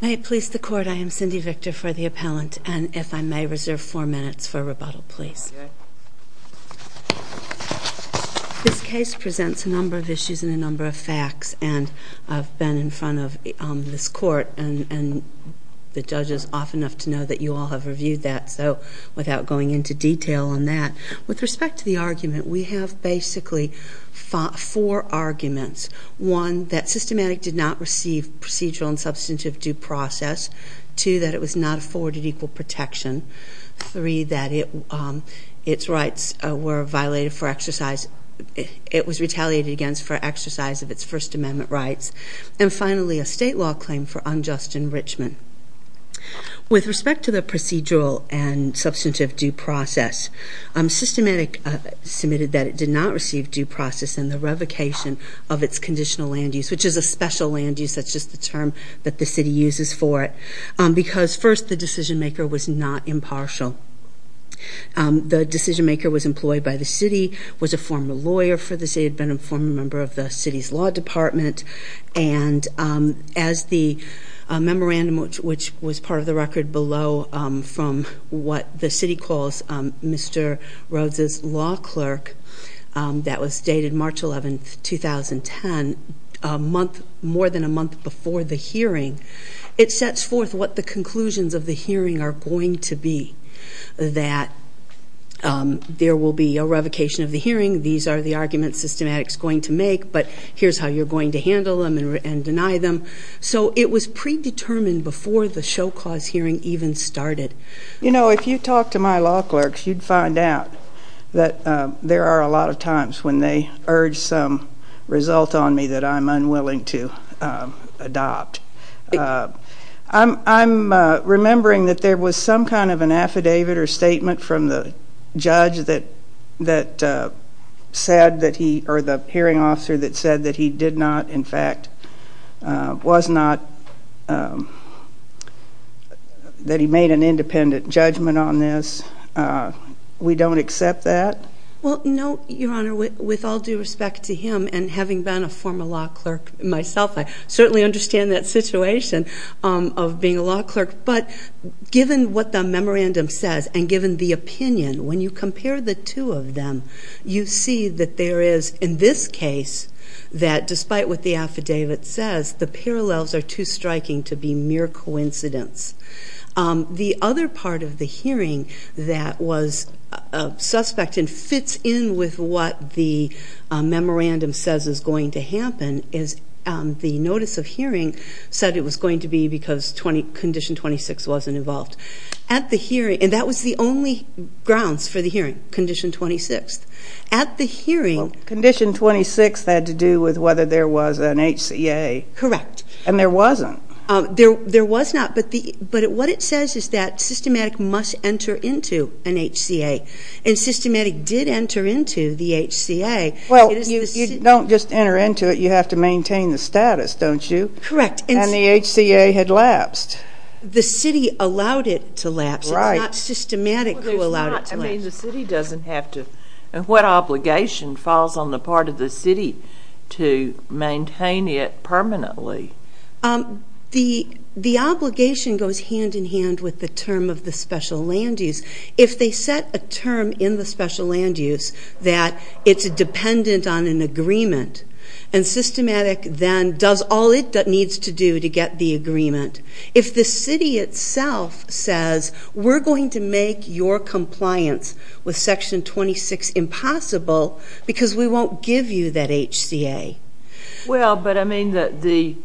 May it please the court, I am Cindy Victor for the appellant and if I may reserve four minutes for rebuttal please. This case presents a number of issues and a number of facts and I've been in front of this court and the judge is off enough to know that you all have reviewed that so without going into detail on that. With respect to the argument we have basically four arguments. One, that Systematic did not receive procedural and substantive due process. Two, that it was not afforded equal protection. Three, that it its rights were violated for exercise, it was retaliated against for exercise of its First Amendment rights. And finally, a state law claim for unjust enrichment. With respect to the procedural and substantive due process, Systematic submitted that it did not receive due process in the revocation of its conditional land use, which is a special land use, that's just the term that the city uses for it, because first the decision maker was not impartial. The decision maker was employed by the city, was a former lawyer for the city, had been a former member of the city's law department, and as the memorandum, which was part of the record below from what the city calls Mr. Rhodes' law clerk, that was dated March 11, 2010, a month, more than a month before the hearing, it sets forth what the conclusions of the hearing are going to be. That there will be a revocation of the hearing, these are the arguments Systematic's going to make, but here's how you're going to handle them and deny them. So it was predetermined before the show clause hearing even started. You know, if you talk to my law clerks, you'd find out that there are a lot of times when they urge some result on me that I'm unwilling to adopt. I'm remembering that there was some kind of an affidavit or statement from the judge that said that he, or the hearing officer that said that he did not, in fact, was not, that he made an independent judgment on this. We don't accept that? Well, no, Your Honor, with all due respect to him and having been a former law clerk myself, I certainly understand that situation of being a law clerk, but given what the memorandum says and given the opinion, when you compare the two of them, you see that there is, in this case, that despite what the affidavit says, the parallels are too striking to be mere coincidence. The other part of the hearing that was suspect and fits in with what the memorandum says is going to happen is the notice of hearing said it was going to be because Condition 26 wasn't involved. At the hearing, and that was the only grounds for the hearing, Condition 26. At the hearing... Well, Condition 26 had to do with whether there was an HCA. Correct. And there wasn't. There was not, but what it says is that Systematic must enter into an HCA, and Systematic did enter into the HCA. Well, you don't just enter into it. You have to maintain the status, don't you? Correct. And the HCA had lapsed. The city allowed it to lapse. Right. It's not Systematic who allowed it to lapse. What obligation falls on the part of the city to maintain it permanently? The obligation goes hand in hand with the term of the special land use. If they set a term in the special land use that it's dependent on an agreement, and Systematic then does all it needs to do to get the agreement, if the city itself says, we're going to make your compliance with Section 26 impossible because we won't give you that HCA. Well, but I mean that the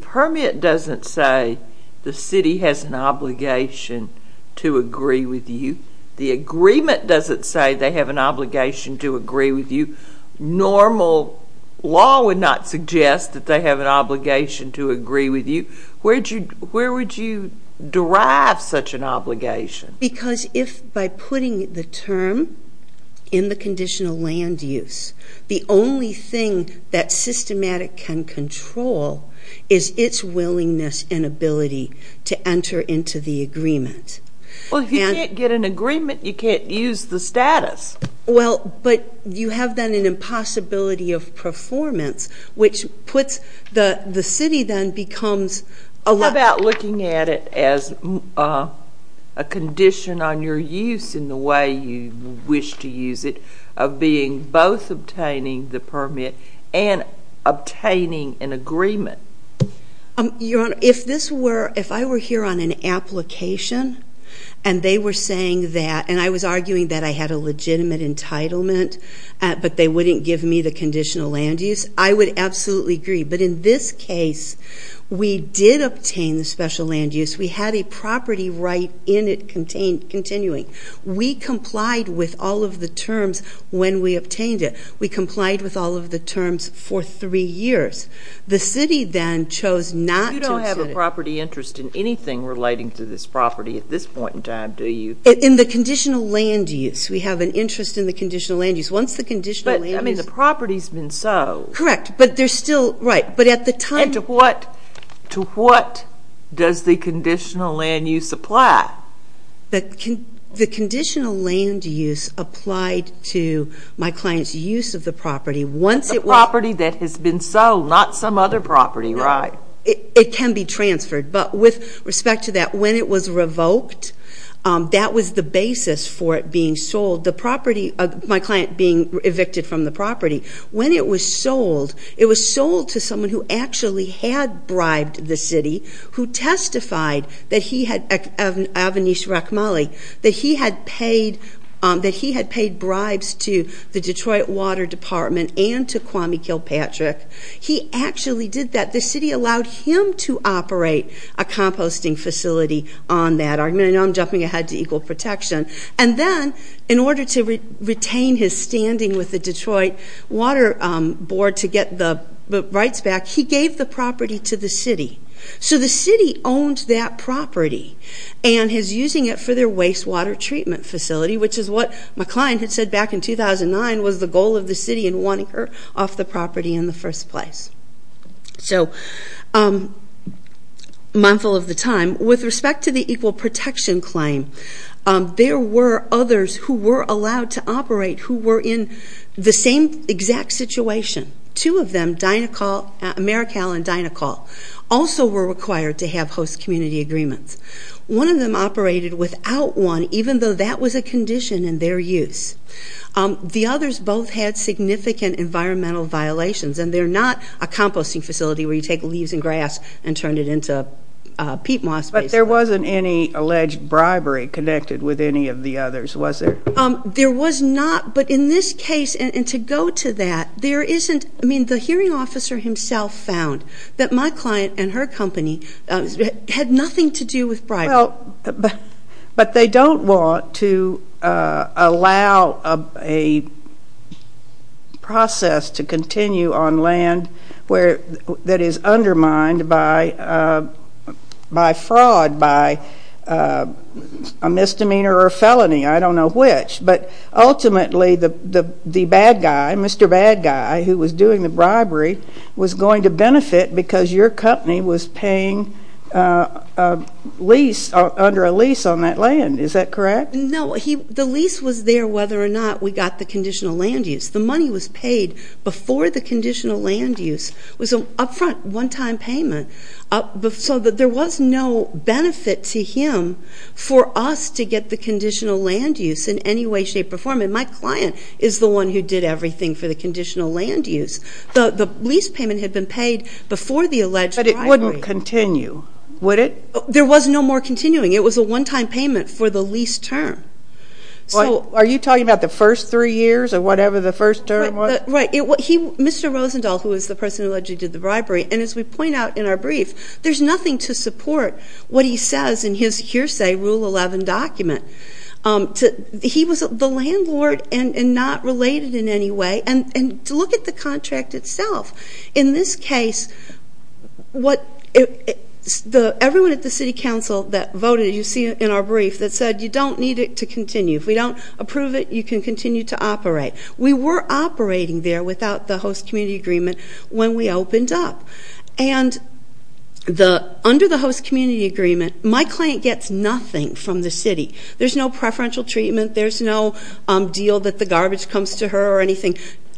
permit doesn't say the city has an obligation to agree with you. The agreement doesn't say they have an obligation to agree with you. Normal law would not suggest that they have an obligation to agree with you. Where would you derive such an obligation? Because if by putting the term in the conditional land use, the only thing that Systematic can control is its willingness and ability to enter into the agreement. Well, if you can't get an agreement, you can't use the status. Well, but you have then an impossibility of performance, which puts the city then becomes a lot. How about looking at it as a condition on your use in the way you wish to use it of being both obtaining the permit and obtaining an agreement? Your Honor, if this were, if I were here on an application and they were saying that, and I was arguing that I had a legitimate entitlement, but they wouldn't give me the conditional land use, I would absolutely agree. But in this case, we did obtain the special land use. We had a property right in it continuing. We complied with all of the terms when we obtained it. We complied with all of the terms for three years. The city then chose not to. You don't have a property interest in anything relating to this property at this point in time, do you? In the conditional land use, we have an interest in the conditional land use. Once the conditional land use... But, I mean, the property's been sold. Correct, but there's still, right, but at the time... And to what does the conditional land use apply? The conditional land use applied to my client's use of the property. Once it was... The property that has been sold, not some other property, right? It can be transferred, but with respect to that, when it was revoked, that was the basis for it being sold, my client being evicted from the property. When it was sold, it was sold to someone who actually had bribed the city, who testified that he had, Avinash Rakhmali, that he had paid bribes to the Detroit Water Department and to Kwame Kilpatrick. He actually did that. The city allowed him to operate a composting facility on that. I know I'm jumping ahead to equal protection. And then, in order to retain his standing with the Detroit Water Board to get the rights back, he gave the property to the city. So the city owned that property and is using it for their wastewater treatment facility, which is what my client had said back in 2009 was the goal of the city in wanting her off the property in the first place. So, mindful of the time, with respect to the equal protection claim, there were others who were allowed to operate who were in the same exact situation. Two of them, Americal and Dinacol, also were required to have host community agreements. One of them operated without one, even though that was a condition in their use. The others both had significant environmental violations, and they're not a composting facility where you take leaves and grass and turn it into peat moss, basically. But there wasn't any alleged bribery connected with any of the others, was there? There was not, but in this case, and to go to that, there isn't. I mean, the hearing officer himself found that my client and her company had nothing to do with bribery. But they don't want to allow a process to continue on land that is undermined by fraud, by a misdemeanor or a felony, I don't know which. But ultimately, the bad guy, Mr. Bad Guy, who was doing the bribery, was going to benefit because your company was paying under a lease on that land. Is that correct? No. The lease was there whether or not we got the conditional land use. The money was paid before the conditional land use. It was an upfront, one-time payment. So there was no benefit to him for us to get the conditional land use in any way, shape, or form. And my client is the one who did everything for the conditional land use. The lease payment had been paid before the alleged bribery. But it wouldn't continue, would it? There was no more continuing. It was a one-time payment for the lease term. Are you talking about the first three years or whatever the first term was? Right. Mr. Rosendahl, who was the person allegedly did the bribery, and as we point out in our brief, there's nothing to support what he says in his hearsay Rule 11 document. He was the landlord and not related in any way. And look at the contract itself. In this case, everyone at the city council that voted, as you see in our brief, that said, you don't need it to continue. If we don't approve it, you can continue to operate. We were operating there without the host community agreement when we opened up. And under the host community agreement, my client gets nothing from the city. There's no preferential treatment. There's no deal that the garbage comes to her or anything.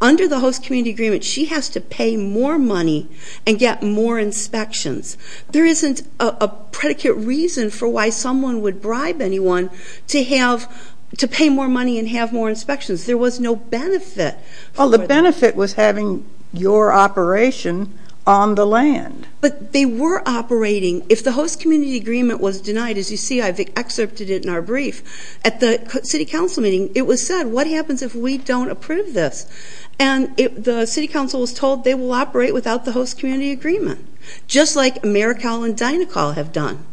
Under the host community agreement, she has to pay more money and get more inspections. There isn't a predicate reason for why someone would bribe anyone to pay more money and have more inspections. There was no benefit. Well, the benefit was having your operation on the land. But they were operating. If the host community agreement was denied, as you see, I've excerpted it in our brief, at the city council meeting, it was said, what happens if we don't approve this? And the city council was told they will operate without the host community agreement, just like AmeriCal and Dynacal have done.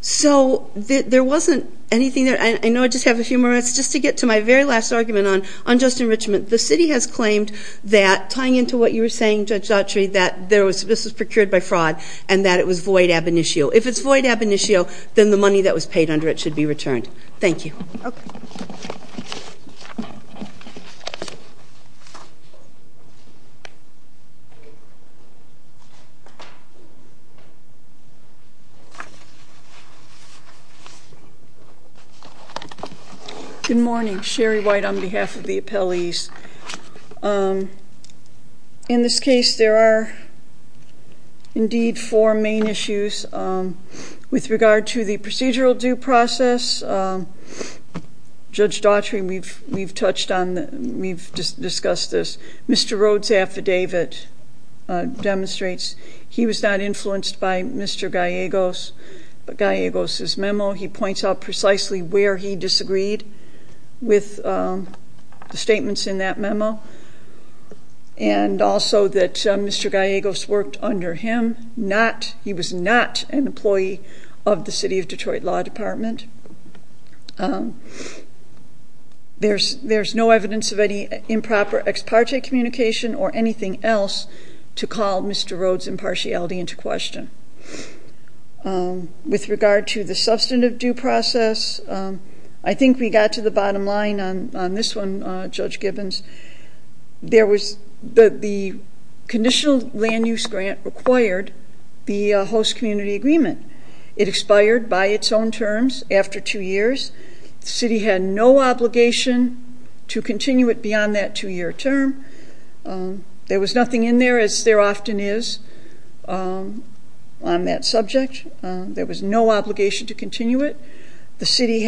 So there wasn't anything there. I know I just have a few more minutes. Just to get to my very last argument on unjust enrichment, the city has claimed that, tying into what you were saying, Judge Daughtry, that this was procured by fraud and that it was void ab initio. If it's void ab initio, then the money that was paid under it should be returned. Thank you. Okay. Good morning. Sherry White on behalf of the appellees. In this case, there are, indeed, four main issues. With regard to the procedural due process, Judge Daughtry, we've touched on, we've discussed this. Mr. Rhoades' affidavit demonstrates he was not influenced by Mr. Gallegos. But Gallegos' memo, he points out precisely where he disagreed with the statements in that memo. And also that Mr. Gallegos worked under him. He was not an employee of the City of Detroit Law Department. There's no evidence of any improper ex parte communication or anything else to call Mr. Rhoades' impartiality into question. With regard to the substantive due process, I think we got to the bottom line on this one, Judge Gibbons. There was the conditional land use grant required the host community agreement. It expired by its own terms after two years. The city had no obligation to continue it beyond that two-year term. There was nothing in there, as there often is on that subject. There was no obligation to continue it. The city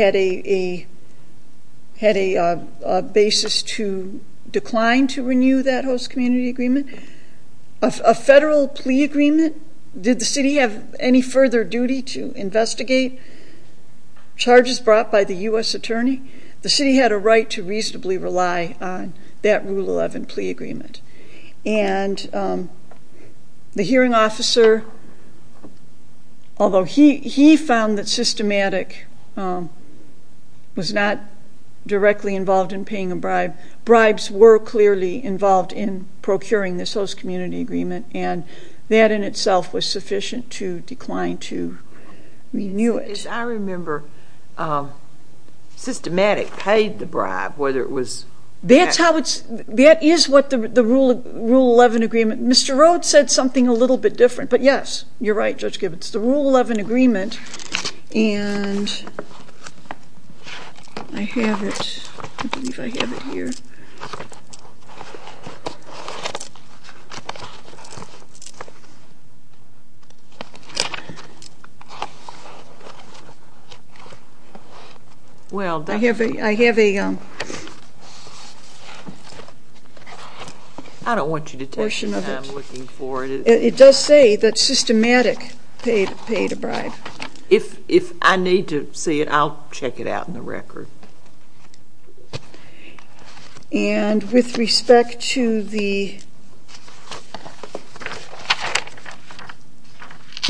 had a basis to decline to renew that host community agreement. A federal plea agreement, did the city have any further duty to investigate? Charges brought by the U.S. Attorney? The city had a right to reasonably rely on that Rule 11 plea agreement. And the hearing officer, although he found that Systematic was not directly involved in paying a bribe, bribes were clearly involved in procuring this host community agreement, and that in itself was sufficient to decline to renew it. I remember Systematic paid the bribe, whether it was that. That is what the Rule 11 agreement. Mr. Rhoades said something a little bit different, but yes, you're right, Judge Gibbons. It's the Rule 11 agreement, and I have it here. I have a portion of it. It does say that Systematic paid a bribe. If I need to see it, I'll check it out in the record. And with respect to the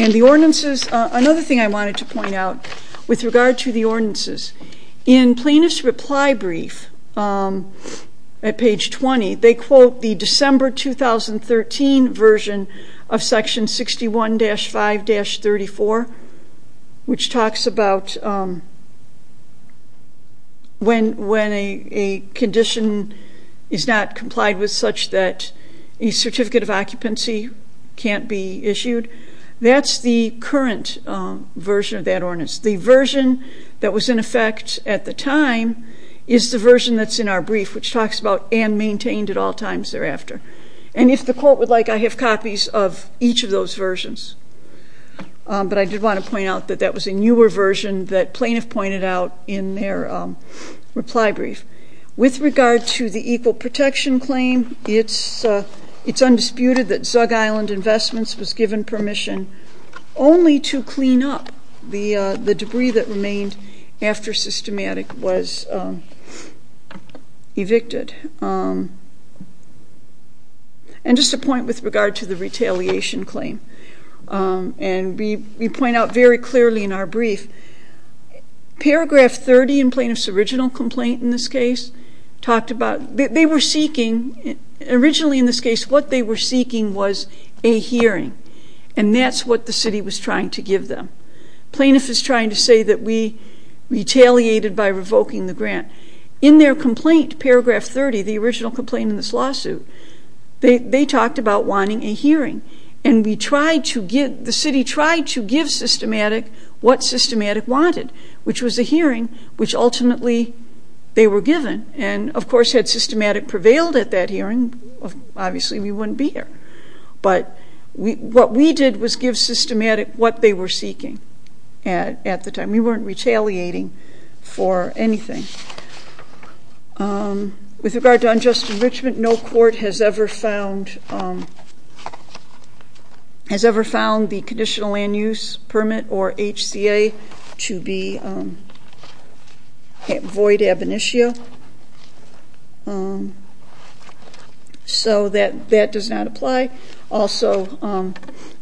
ordinances, another thing I wanted to point out with regard to the ordinances, in Plaintiff's reply brief at page 20, they quote the December 2013 version of section 61-5-34, which talks about when a condition is not complied with such that a certificate of occupancy can't be issued. That's the current version of that ordinance. The version that was in effect at the time is the version that's in our brief, which talks about and maintained at all times thereafter. And if the Court would like, I have copies of each of those versions. But I did want to point out that that was a newer version that Plaintiff pointed out in their reply brief. With regard to the Equal Protection Claim, it's undisputed that Zug Island Investments was given permission only to clean up the debris that remained after Systematic was evicted. And just a point with regard to the Retaliation Claim, and we point out very clearly in our brief, Paragraph 30 in Plaintiff's original complaint in this case talked about, they were seeking, originally in this case what they were seeking was a hearing. And that's what the City was trying to give them. Plaintiff is trying to say that we retaliated by revoking the grant. In their complaint, Paragraph 30, the original complaint in this lawsuit, they talked about wanting a hearing. And the City tried to give Systematic what Systematic wanted, which was a hearing which ultimately they were given. And, of course, had Systematic prevailed at that hearing, obviously we wouldn't be here. But what we did was give Systematic what they were seeking at the time. We weren't retaliating for anything. With regard to unjust enrichment, no court has ever found the Conditional Land Use Permit, or HCA, to be void ab initio. So that does not apply. Also,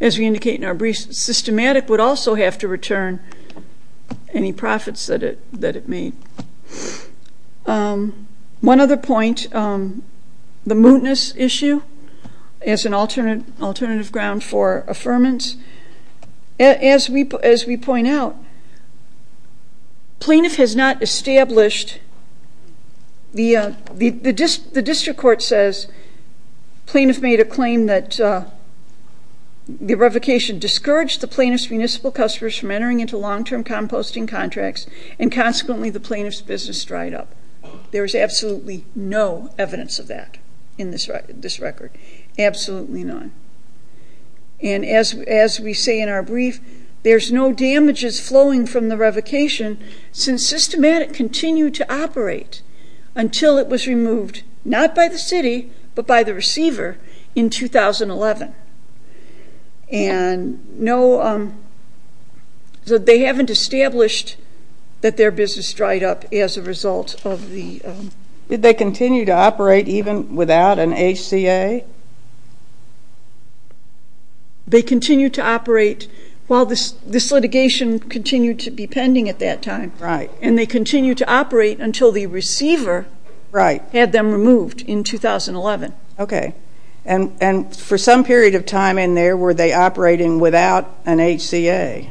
as we indicate in our brief, Systematic would also have to return any profits that it made. One other point, the mootness issue as an alternative ground for affirmance. As we point out, plaintiff has not established, the district court says, plaintiff made a claim that the revocation discouraged the plaintiff's municipal customers from entering into long-term composting contracts, and consequently the plaintiff's business dried up. There is absolutely no evidence of that in this record. Absolutely none. And as we say in our brief, there's no damages flowing from the revocation since Systematic continued to operate until it was removed, not by the City, but by the receiver in 2011. And no, they haven't established that their business dried up as a result of the... Did they continue to operate even without an HCA? They continued to operate while this litigation continued to be pending at that time. Right. And they continued to operate until the receiver had them removed in 2011. Okay. And for some period of time in there, were they operating without an HCA?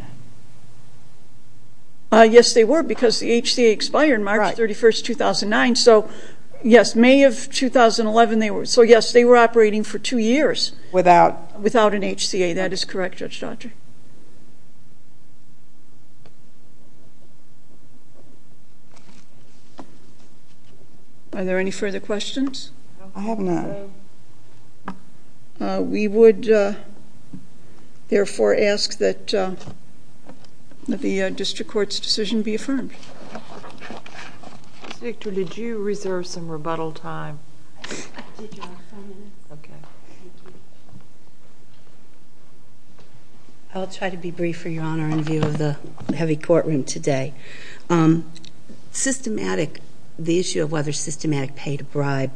Yes, they were because the HCA expired March 31, 2009. So, yes, May of 2011 they were. So, yes, they were operating for two years. Without? Without an HCA, that is correct, Judge Dodger. Are there any further questions? I have none. We would, therefore, ask that the District Court's decision be affirmed. Ms. Victor, did you reserve some rebuttal time? I did, Your Honor. Okay. I'll try to be brief for Your Honor in view of the heavy courtroom today. Systematic, the issue of whether systematic paid a bribe,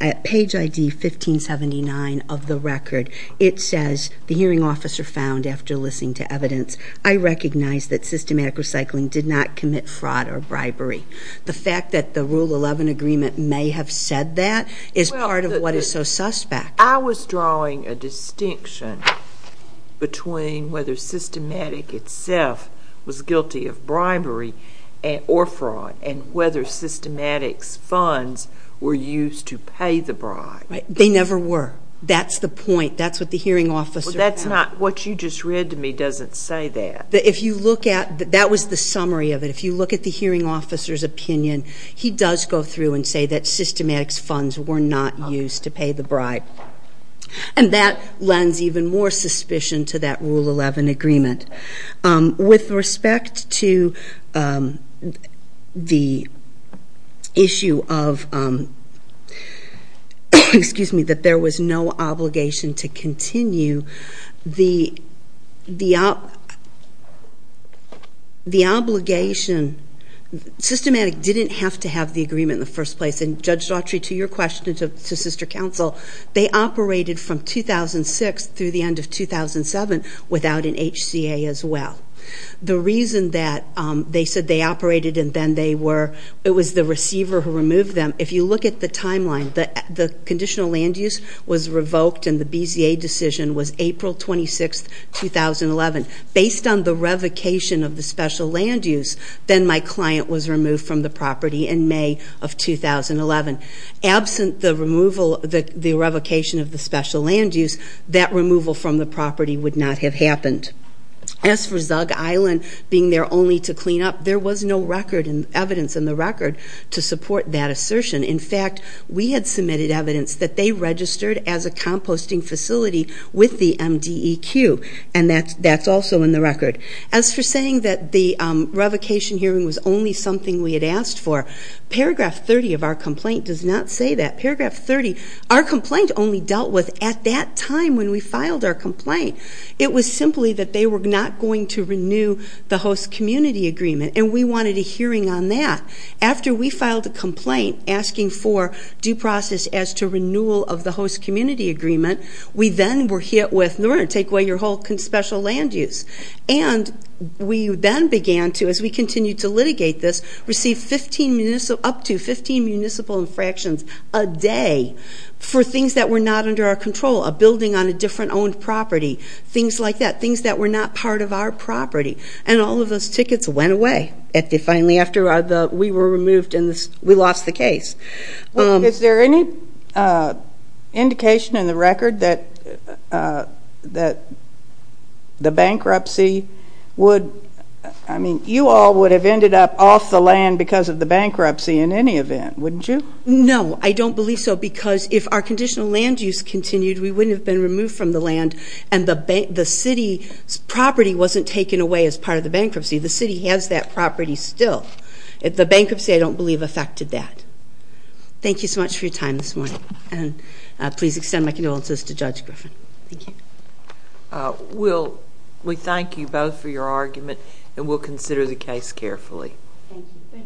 at page ID 1579 of the record, it says, the hearing officer found after listening to evidence, I recognize that systematic recycling did not commit fraud or bribery. The fact that the Rule 11 agreement may have said that is part of what is so suspect. I was drawing a distinction between whether systematic itself was guilty of bribery or fraud and whether systematic's funds were used to pay the bribe. They never were. That's the point. That's what the hearing officer found. What you just read to me doesn't say that. That was the summary of it. If you look at the hearing officer's opinion, he does go through and say that systematic's funds were not used to pay the bribe. And that lends even more suspicion to that Rule 11 agreement. With respect to the issue of, excuse me, that there was no obligation to continue, the obligation, systematic didn't have to have the agreement in the first place. And Judge Daughtry, to your question and to Sister Counsel, they operated from 2006 through the end of 2007 without an HCA as well. The reason that they said they operated and then they were, it was the receiver who removed them, if you look at the timeline, the conditional land use was revoked and the BZA decision was April 26, 2011. Based on the revocation of the special land use, then my client was removed from the property in May of 2011. Absent the removal, the revocation of the special land use, that removal from the property would not have happened. As for Zug Island being there only to clean up, there was no record and evidence in the record to support that assertion. In fact, we had submitted evidence that they registered as a composting facility with the MDEQ, and that's also in the record. As for saying that the revocation hearing was only something we had asked for, paragraph 30 of our complaint does not say that. Paragraph 30, our complaint only dealt with at that time when we filed our complaint. It was simply that they were not going to renew the host community agreement, and we wanted a hearing on that. After we filed a complaint asking for due process as to renewal of the host community agreement, we then were hit with, we're going to take away your whole special land use. And we then began to, as we continued to litigate this, receive up to 15 municipal infractions a day for things that were not under our control, a building on a different owned property, things like that, things that were not part of our property. And all of those tickets went away finally after we were removed and we lost the case. Is there any indication in the record that the bankruptcy would, I mean, you all would have ended up off the land because of the bankruptcy in any event, wouldn't you? No, I don't believe so, because if our conditional land use continued, we wouldn't have been removed from the land and the city's property wasn't taken away as part of the bankruptcy. The city has that property still. The bankruptcy, I don't believe, affected that. Thank you so much for your time this morning. And please extend my condolences to Judge Griffin. Thank you. We thank you both for your argument, and we'll consider the case carefully. Thank you.